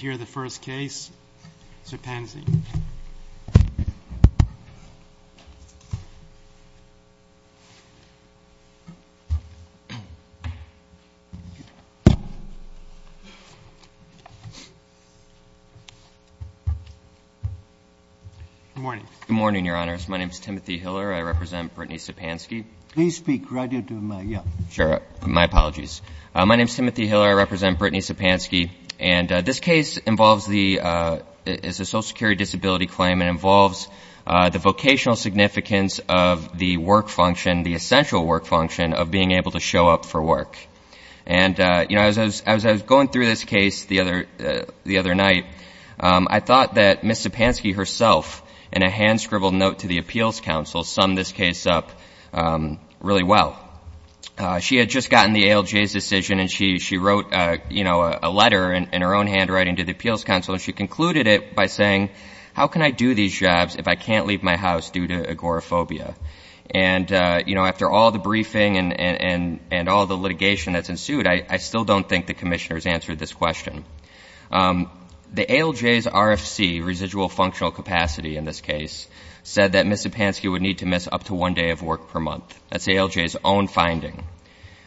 Good morning, Your Honors. My name is Timothy Hiller. I represent Brittany Zzepanski. Please speak right into the mic, yeah. Sure. My apologies. My name is Timothy Hiller. I represent Brittany Zzepanski. And this case involves the, is a Social Security disability claim and involves the vocational significance of the work function, the essential work function of being able to show up for work. And, you know, as I was going through this case the other night, I thought that Ms. Zzepanski herself, in a hand-scribbled note to the Appeals Council, summed this case up really well. She had just gotten the ALJ's decision and she wrote, you know, a letter in her own handwriting to the Appeals Council and she concluded it by saying, how can I do these jobs if I can't leave my house due to agoraphobia? And, you know, after all the briefing and all the litigation that's ensued, I still don't think the commissioners answered this question. The ALJ's RFC, Residual Functional Capacity, in this case, said that Ms. Zzepanski would need to miss up to one day of work per month. That's the ALJ's own finding.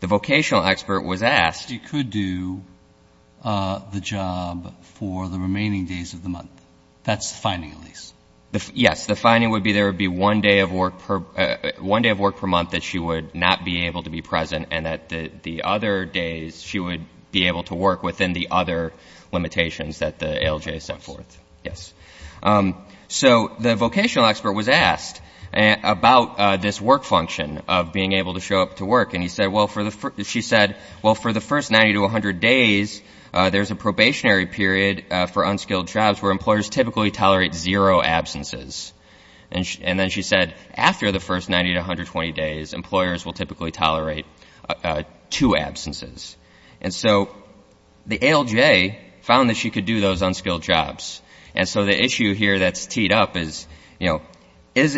The vocational expert was asked — She could do the job for the remaining days of the month. That's the finding, at least. Yes. The finding would be there would be one day of work per month that she would not be able to be present and that the other days she would be able to work within the other limitations that the ALJ set forth. Yes. So the vocational expert was asked about this work function of being able to show up to work and he said, well, for the — she said, well, for the first 90 to 100 days, there's a probationary period for unskilled jobs where employers typically tolerate zero absences. And then she said, after the first 90 to 120 days, employers will typically tolerate two absences. And so the ALJ found that she could do those unskilled jobs. And so the issue here that's teed up is, you know, is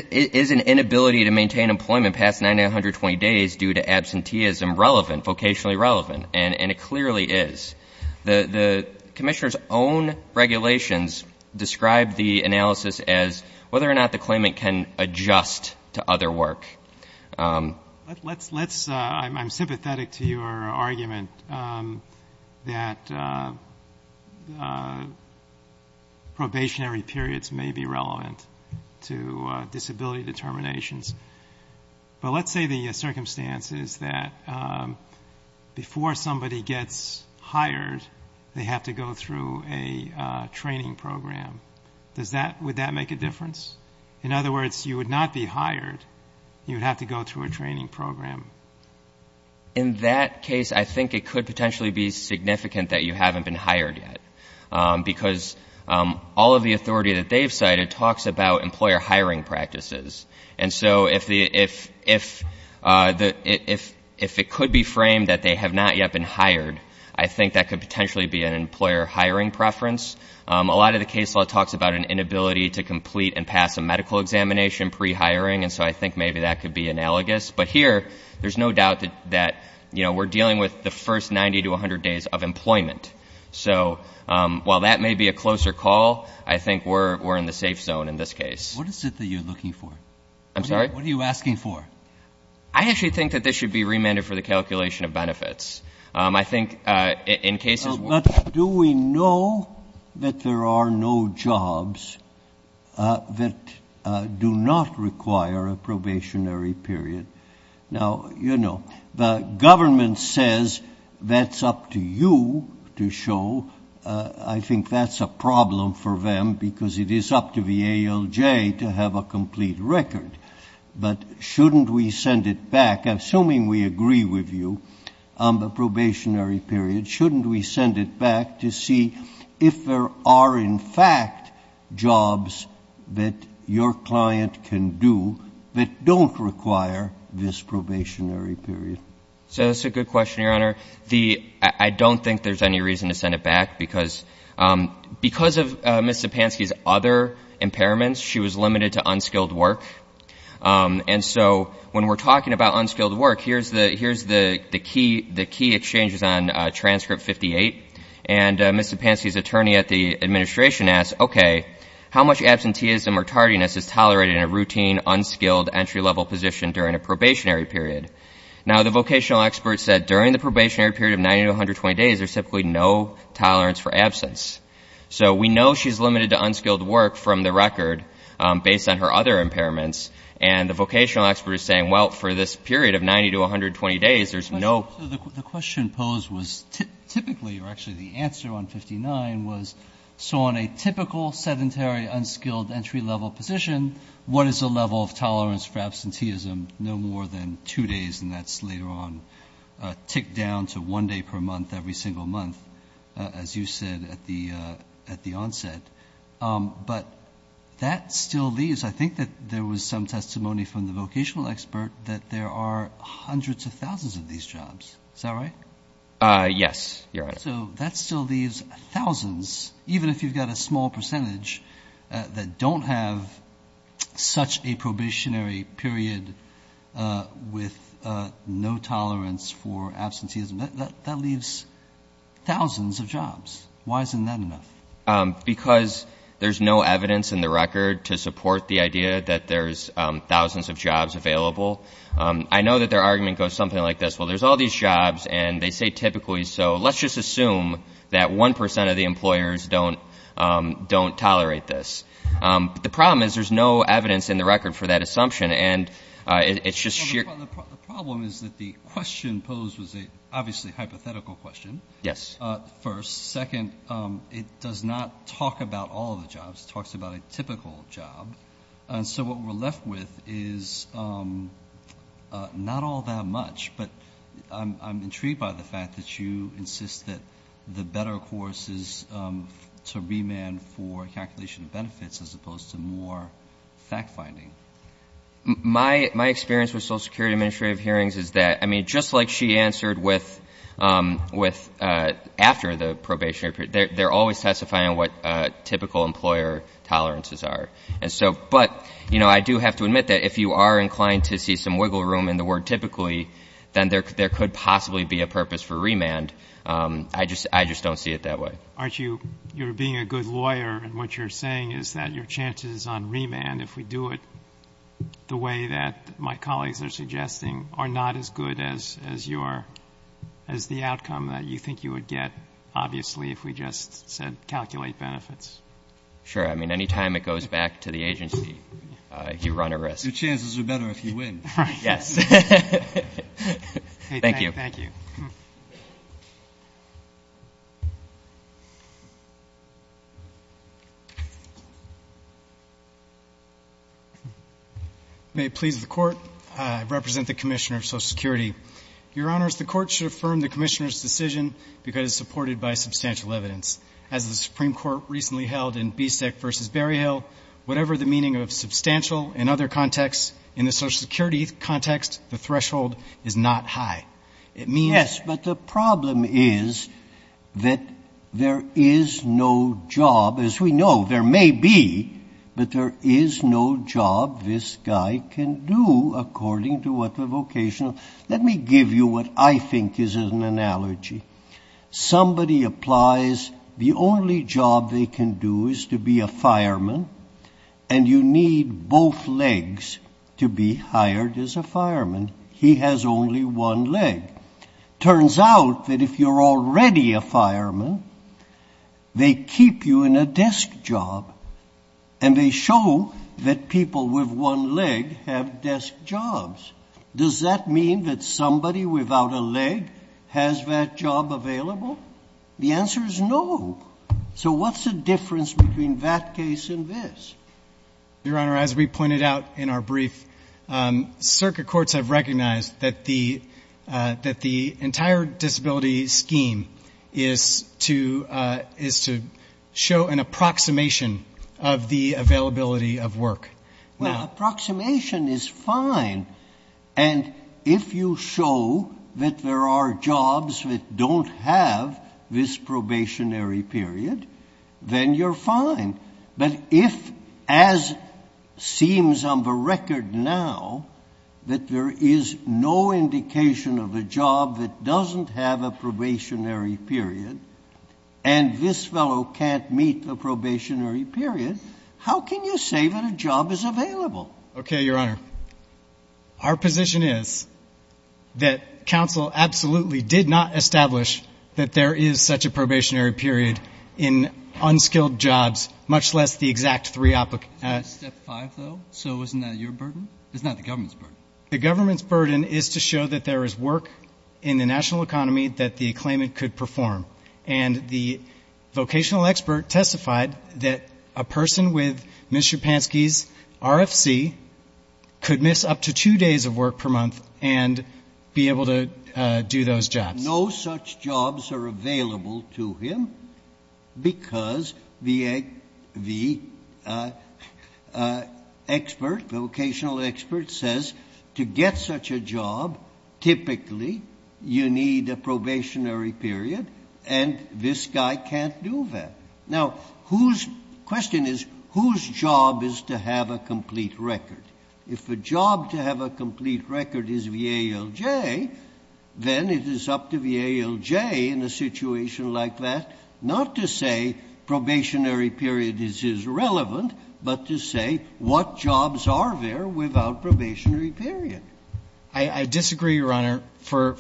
an inability to maintain employment past 90 to 120 days due to absenteeism relevant, vocationally relevant? And it clearly is. The commissioner's own regulations describe the analysis as whether or not the claimant can adjust to other work. Let's — I'm sympathetic to your argument that probationary periods may be relevant to disability determinations. But let's say the circumstance is that before somebody gets hired, they have to go through a training program. Does that — would that make a difference? In other words, you would not be hired. You would have to go through a training program. In that case, I think it could potentially be significant that you haven't been hired yet. Because all of the authority that they've cited talks about employer hiring practices. And so if the — if it could be framed that they have not yet been hired, I think that could potentially be an employer hiring preference. A lot of the case law talks about an inability to complete and pass a medical examination pre-hiring. And so I think maybe that could be analogous. But here, there's no doubt that, you know, we're dealing with the first 90 to 100 days of employment. So while that may be a closer call, I think we're in the safe zone in this case. What is it that you're looking for? I'm sorry? What are you asking for? But do we know that there are no jobs that do not require a probationary period? Now, you know, the government says that's up to you to show. I think that's a problem for them because it is up to the ALJ to have a complete record. But shouldn't we send it back, assuming we agree with you? The probationary period. Shouldn't we send it back to see if there are, in fact, jobs that your client can do that don't require this probationary period? So that's a good question, Your Honor. I don't think there's any reason to send it back because of Ms. Zipanski's other impairments. She was limited to unskilled work. And so when we're talking about unskilled work, here's the key exchanges on transcript 58. And Ms. Zipanski's attorney at the administration asked, okay, how much absenteeism or tardiness is tolerated in a routine, unskilled, entry-level position during a probationary period? Now, the vocational expert said during the probationary period of 90 to 120 days, there's typically no tolerance for absence. So we know she's limited to unskilled work from the record based on her other impairments, and the vocational expert is saying, well, for this period of 90 to 120 days, there's no ‑‑ The question posed was typically, or actually the answer on 59 was, so on a typical sedentary, unskilled, entry-level position, what is the level of tolerance for absenteeism no more than two days, and that's later on ticked down to one day per month every single month, as you said at the onset. But that still leaves, I think that there was some testimony from the vocational expert, that there are hundreds of thousands of these jobs. Is that right? Yes, Your Honor. So that still leaves thousands, even if you've got a small percentage, that don't have such a probationary period with no tolerance for absenteeism. That leaves thousands of jobs. Why isn't that enough? Because there's no evidence in the record to support the idea that there's thousands of jobs available. I know that their argument goes something like this, well, there's all these jobs, and they say typically, so let's just assume that 1% of the employers don't tolerate this. But the problem is there's no evidence in the record for that assumption, and it's just sheer ‑‑ Well, the problem is that the question posed was obviously a hypothetical question. Yes. First. Second, it does not talk about all the jobs. It talks about a typical job. And so what we're left with is not all that much, but I'm intrigued by the fact that you insist that the better course is to remand for calculation of benefits as opposed to more fact-finding. My experience with Social Security administrative hearings is that, I mean, just like she answered with after the probationary period, they're always testifying on what typical employer tolerances are. And so ‑‑ but, you know, I do have to admit that if you are inclined to see some wiggle room in the word typically, then there could possibly be a purpose for remand. I just don't see it that way. You're being a good lawyer, and what you're saying is that your chances on remand, if we do it the way that my colleagues are suggesting, are not as good as the outcome that you think you would get, obviously, if we just said calculate benefits. Sure. I mean, any time it goes back to the agency, you run a risk. Your chances are better if you win. Yes. Thank you. Thank you. May it please the Court. I represent the Commissioner of Social Security. Your Honors, the Court should affirm the Commissioner's decision because it's supported by substantial evidence. As the Supreme Court recently held in Bieseck v. Berryhill, whatever the meaning of substantial in other contexts, in the Social Security context, the threshold is not high. It means ‑‑ As we know, there may be, but there is no job this guy can do according to what the vocational. Let me give you what I think is an analogy. Somebody applies, the only job they can do is to be a fireman, and you need both legs to be hired as a fireman. He has only one leg. It turns out that if you're already a fireman, they keep you in a desk job, and they show that people with one leg have desk jobs. Does that mean that somebody without a leg has that job available? The answer is no. So what's the difference between that case and this? Your Honor, as we pointed out in our brief, circuit courts have recognized that the entire disability scheme is to show an approximation of the availability of work. Approximation is fine. And if you show that there are jobs that don't have this probationary period, then you're fine. But if, as seems on the record now, that there is no indication of a job that doesn't have a probationary period, and this fellow can't meet the probationary period, how can you say that a job is available? Okay, Your Honor. Our position is that counsel absolutely did not establish that there is such a probationary period in unskilled jobs, much less the exact three applicants. Step five, though, so isn't that your burden? It's not the government's burden. The government's burden is to show that there is work in the national economy that the claimant could perform. And the vocational expert testified that a person with Mr. Pansky's RFC could miss up to two days of work per month and be able to do those jobs. No such jobs are available to him because the expert, the vocational expert says to get such a job, typically you need a probationary period, and this guy can't do that. Now, whose question is whose job is to have a complete record? If a job to have a complete record is VALJ, then it is up to VALJ in a situation like that not to say probationary period is irrelevant, but to say what jobs are there without probationary period. I disagree, Your Honor, for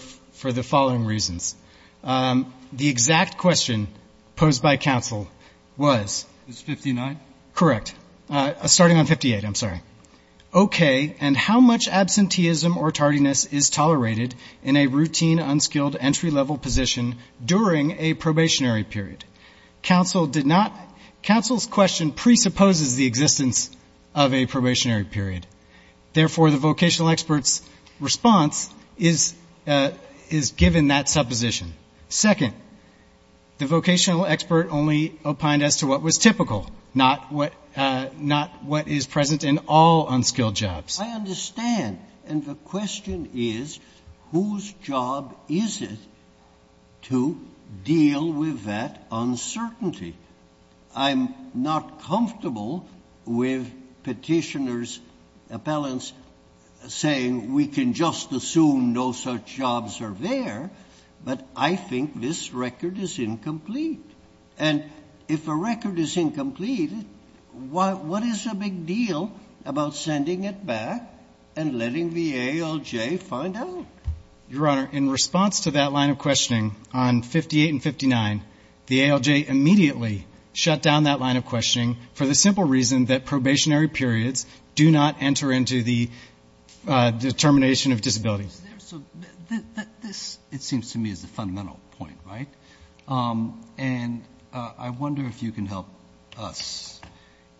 the following reasons. The exact question posed by counsel was? It's 59? Correct. Starting on 58, I'm sorry. Okay, and how much absenteeism or tardiness is tolerated in a routine, unskilled entry-level position during a probationary period? Counsel did not, counsel's question presupposes the existence of a probationary period. Therefore, the vocational expert's response is given that supposition. Second, the vocational expert only opined as to what was typical, not what is present in all unskilled jobs. I understand. And the question is whose job is it to deal with that uncertainty? I'm not comfortable with Petitioner's appellants saying we can just assume no such jobs are there, but I think this record is incomplete. And if a record is incomplete, what is the big deal about sending it back and letting the ALJ find out? Your Honor, in response to that line of questioning on 58 and 59, the ALJ immediately shut down that line of questioning for the simple reason that probationary periods do not enter into the determination of disability. So this, it seems to me, is the fundamental point, right? And I wonder if you can help us.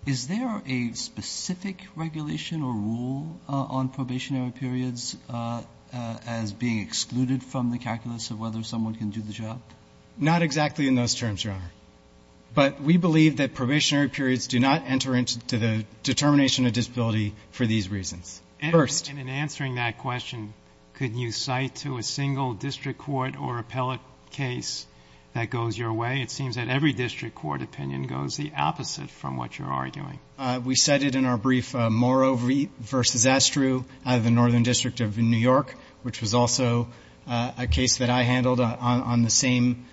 Is there a specific regulation or rule on probationary periods as being excluded from the calculus of whether someone can do the job? Not exactly in those terms, Your Honor. But we believe that probationary periods do not enter into the determination of disability for these reasons. First. And in answering that question, could you cite to a single district court or appellate case that goes your way? It seems that every district court opinion goes the opposite from what you're arguing. We cited in our brief Morrow v. Astru, the Northern District of New York, which was also a case that I handled on the same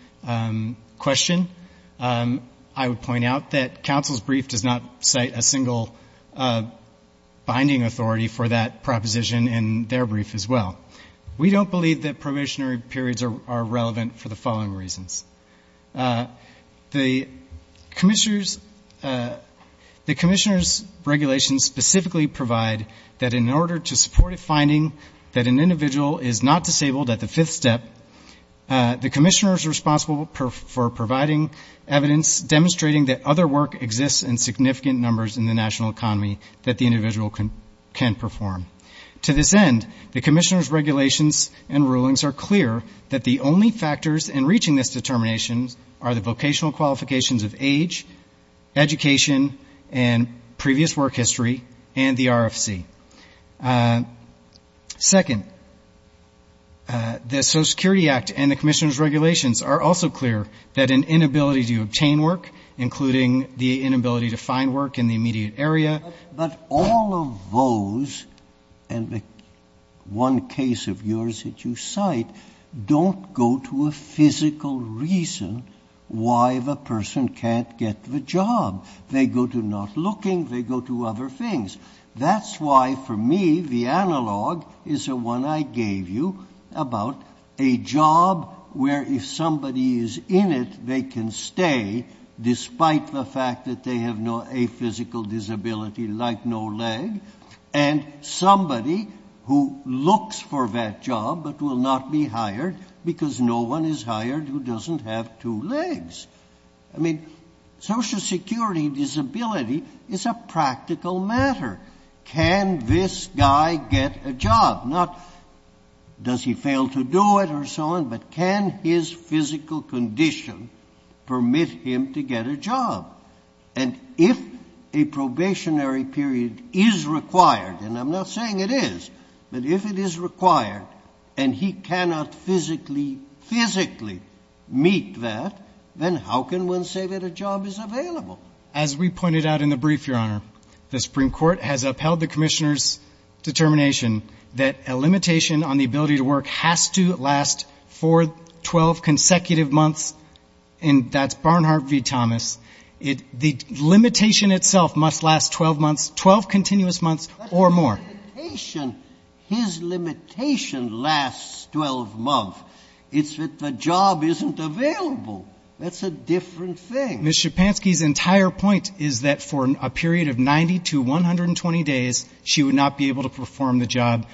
question. I would point out that counsel's brief does not cite a single binding authority for that proposition in their brief as well. We don't believe that probationary periods are relevant for the following reasons. The commissioner's regulations specifically provide that in order to support a finding that an individual is not disabled at the fifth step, the commissioner is responsible for providing evidence demonstrating that other work exists in significant numbers in the national economy that the individual can perform. To this end, the commissioner's regulations and rulings are clear that the only factors in reaching this determination are the vocational qualifications of age, education, and previous work history, and the RFC. Second, the Social Security Act and the commissioner's regulations are also clear that an inability to obtain work, including the inability to find work in the immediate area. But all of those and the one case of yours that you cite don't go to a physical reason why the person can't get the job. They go to not looking, they go to other things. That's why for me the analog is the one I gave you about a job where if somebody is in it, they can stay despite the fact that they have a physical disability like no leg, and somebody who looks for that job but will not be hired because no one is hired who doesn't have two legs. I mean, Social Security disability is a practical matter. Can this guy get a job? Not does he fail to do it or so on, but can his physical condition permit him to get a job? And if a probationary period is required, and I'm not saying it is, but if it is required and he cannot physically meet that, then how can one say that a job is available? As we pointed out in the brief, Your Honor, the Supreme Court has upheld the commissioner's determination that a limitation on the ability to work has to last for 12 consecutive months, and that's Barnhart v. Thomas. The limitation itself must last 12 months, 12 continuous months or more. But the limitation, his limitation lasts 12 months. It's that the job isn't available. That's a different thing. Ms. Schapansky's entire point is that for a period of 90 to 120 days, she would not be able to perform the job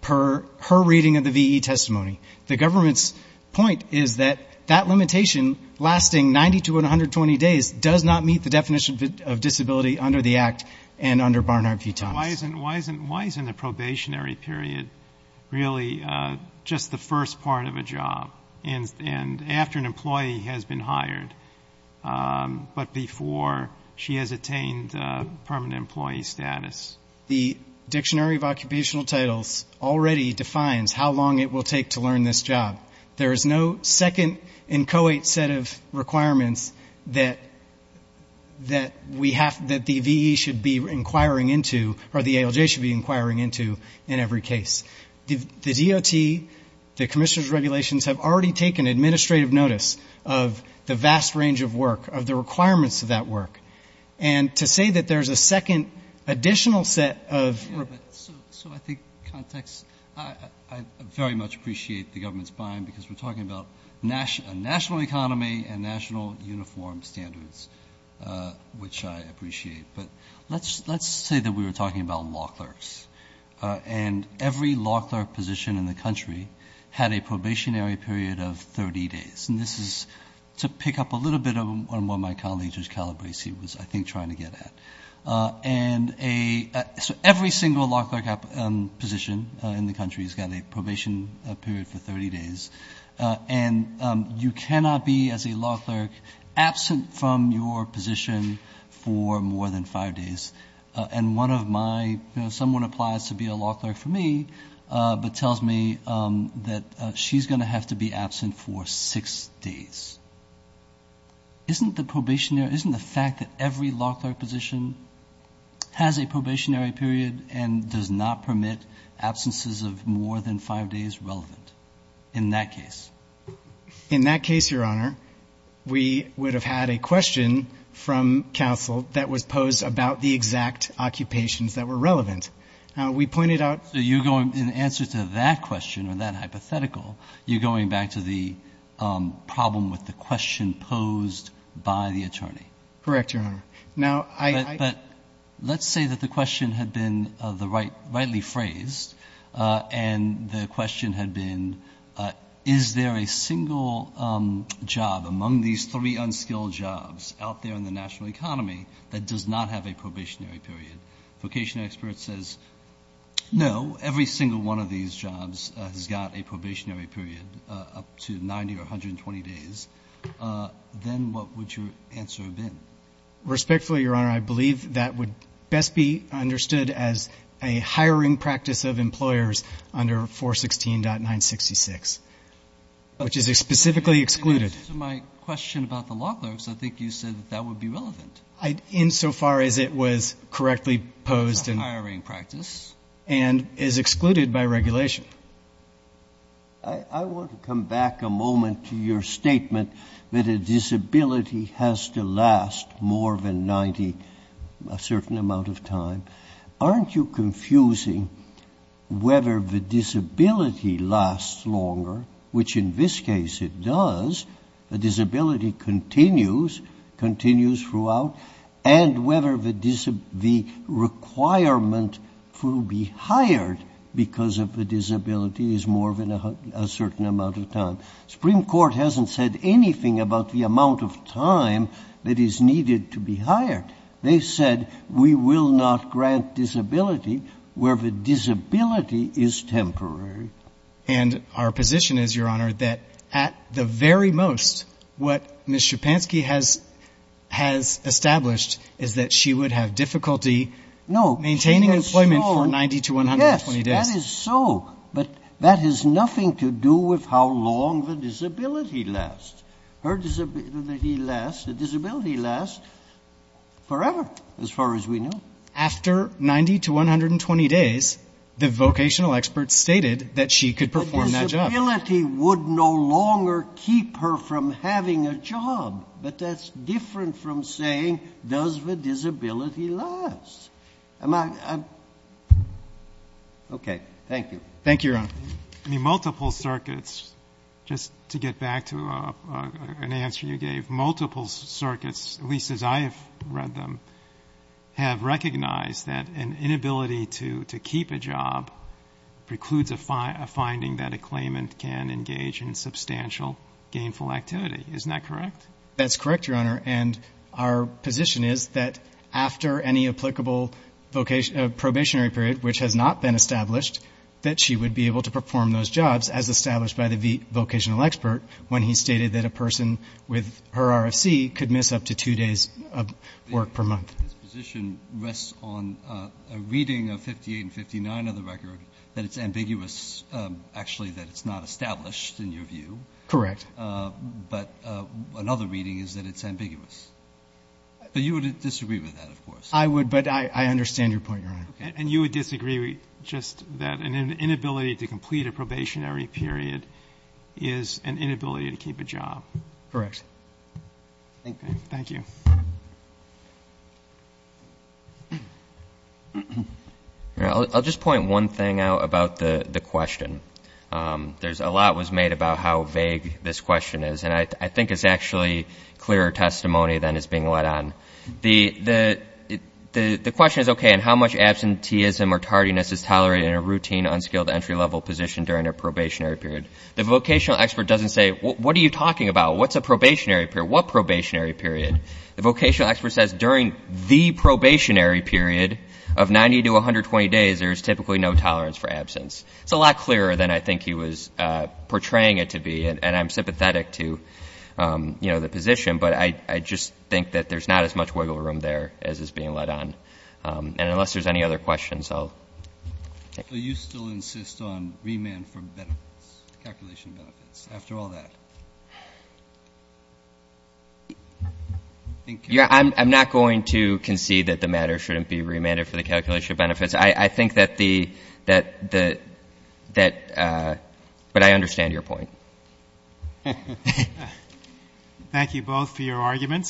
per her reading of the V.E. testimony. The government's point is that that limitation, lasting 90 to 120 days, does not meet the definition of disability under the Act and under Barnhart v. Thomas. Why isn't a probationary period really just the first part of a job, and after an employee has been hired but before she has attained permanent employee status? The Dictionary of Occupational Titles already defines how long it will take to learn this job. There is no second inchoate set of requirements that we have, that the V.E. should be inquiring into or the ALJ should be inquiring into in every case. The DOT, the commissioner's regulations, have already taken administrative notice of the vast range of work, of the requirements of that work. And to say that there's a second additional set of. So I think context. I very much appreciate the government's buy-in because we're talking about a national economy and national uniform standards, which I appreciate. But let's say that we were talking about law clerks, and every law clerk position in the country had a probationary period of 30 days. And this is to pick up a little bit on what my colleague, Judge Calabresi, was, I think, trying to get at. And so every single law clerk position in the country has got a probation period for 30 days. And you cannot be, as a law clerk, absent from your position for more than five days. And one of my, you know, someone applies to be a law clerk for me, but tells me that she's going to have to be absent for six days. Isn't the fact that every law clerk position has a probationary period and does not permit absences of more than five days relevant in that case? In that case, Your Honor, we would have had a question from counsel that was posed about the exact occupations that were relevant. We pointed out. So you're going, in answer to that question or that hypothetical, you're going back to the problem with the question posed by the attorney. Correct, Your Honor. But let's say that the question had been rightly phrased, and the question had been, is there a single job among these three unskilled jobs out there in the national economy that does not have a probationary period? A vocation expert says, no, every single one of these jobs has got a probationary period up to 90 or 120 days. Then what would your answer have been? Respectfully, Your Honor, I believe that would best be understood as a hiring practice of employers under 416.966, which is specifically excluded. In answer to my question about the law clerks, I think you said that that would be relevant. Insofar as it was correctly posed and is excluded by regulation. I want to come back a moment to your statement that a disability has to last more than 90 a certain amount of time. Aren't you confusing whether the disability lasts longer, which in this case it does, the disability continues, continues throughout, and whether the requirement to be hired because of the disability is more than a certain amount of time. Supreme Court hasn't said anything about the amount of time that is needed to be hired. They said we will not grant disability where the disability is temporary. And our position is, Your Honor, that at the very most, what Ms. Schapansky has established is that she would have difficulty maintaining employment for 90 to 120 days. Yes, that is so, but that has nothing to do with how long the disability lasts. Her disability lasts forever, as far as we know. After 90 to 120 days, the vocational experts stated that she could perform that job. Disability would no longer keep her from having a job. But that's different from saying does the disability last. Okay. Thank you. Thank you, Your Honor. Multiple circuits, just to get back to an answer you gave, multiple circuits, at least as I have read them, have recognized that an inability to keep a job precludes a finding that a claimant can engage in substantial gainful activity. Isn't that correct? That's correct, Your Honor. And our position is that after any applicable probationary period, which has not been established, that she would be able to perform those jobs, as established by the vocational expert when he stated that a person with her RFC could miss up to two days of work per month. This position rests on a reading of 58 and 59 of the record that it's ambiguous, actually that it's not established, in your view. Correct. But another reading is that it's ambiguous. But you would disagree with that, of course. I would, but I understand your point, Your Honor. And you would disagree just that an inability to complete a probationary period is an inability to keep a job. Correct. Thank you. I'll just point one thing out about the question. A lot was made about how vague this question is, and I think it's actually clearer testimony than is being led on. The question is, okay, and how much absenteeism or tardiness is tolerated in a routine, unskilled, entry-level position during a probationary period? The vocational expert doesn't say, what are you talking about? What's a probationary period? What probationary period? The vocational expert says during the probationary period of 90 to 120 days, there is typically no tolerance for absence. It's a lot clearer than I think he was portraying it to be, and I'm sympathetic to, you know, the position, but I just think that there's not as much wiggle room there as is being led on. And unless there's any other questions, I'll take them. So you still insist on remand for benefits, calculation benefits, after all that? I'm not going to concede that the matter shouldn't be remanded for the calculation benefits. I think that the ‑‑ but I understand your point. Thank you both for your arguments.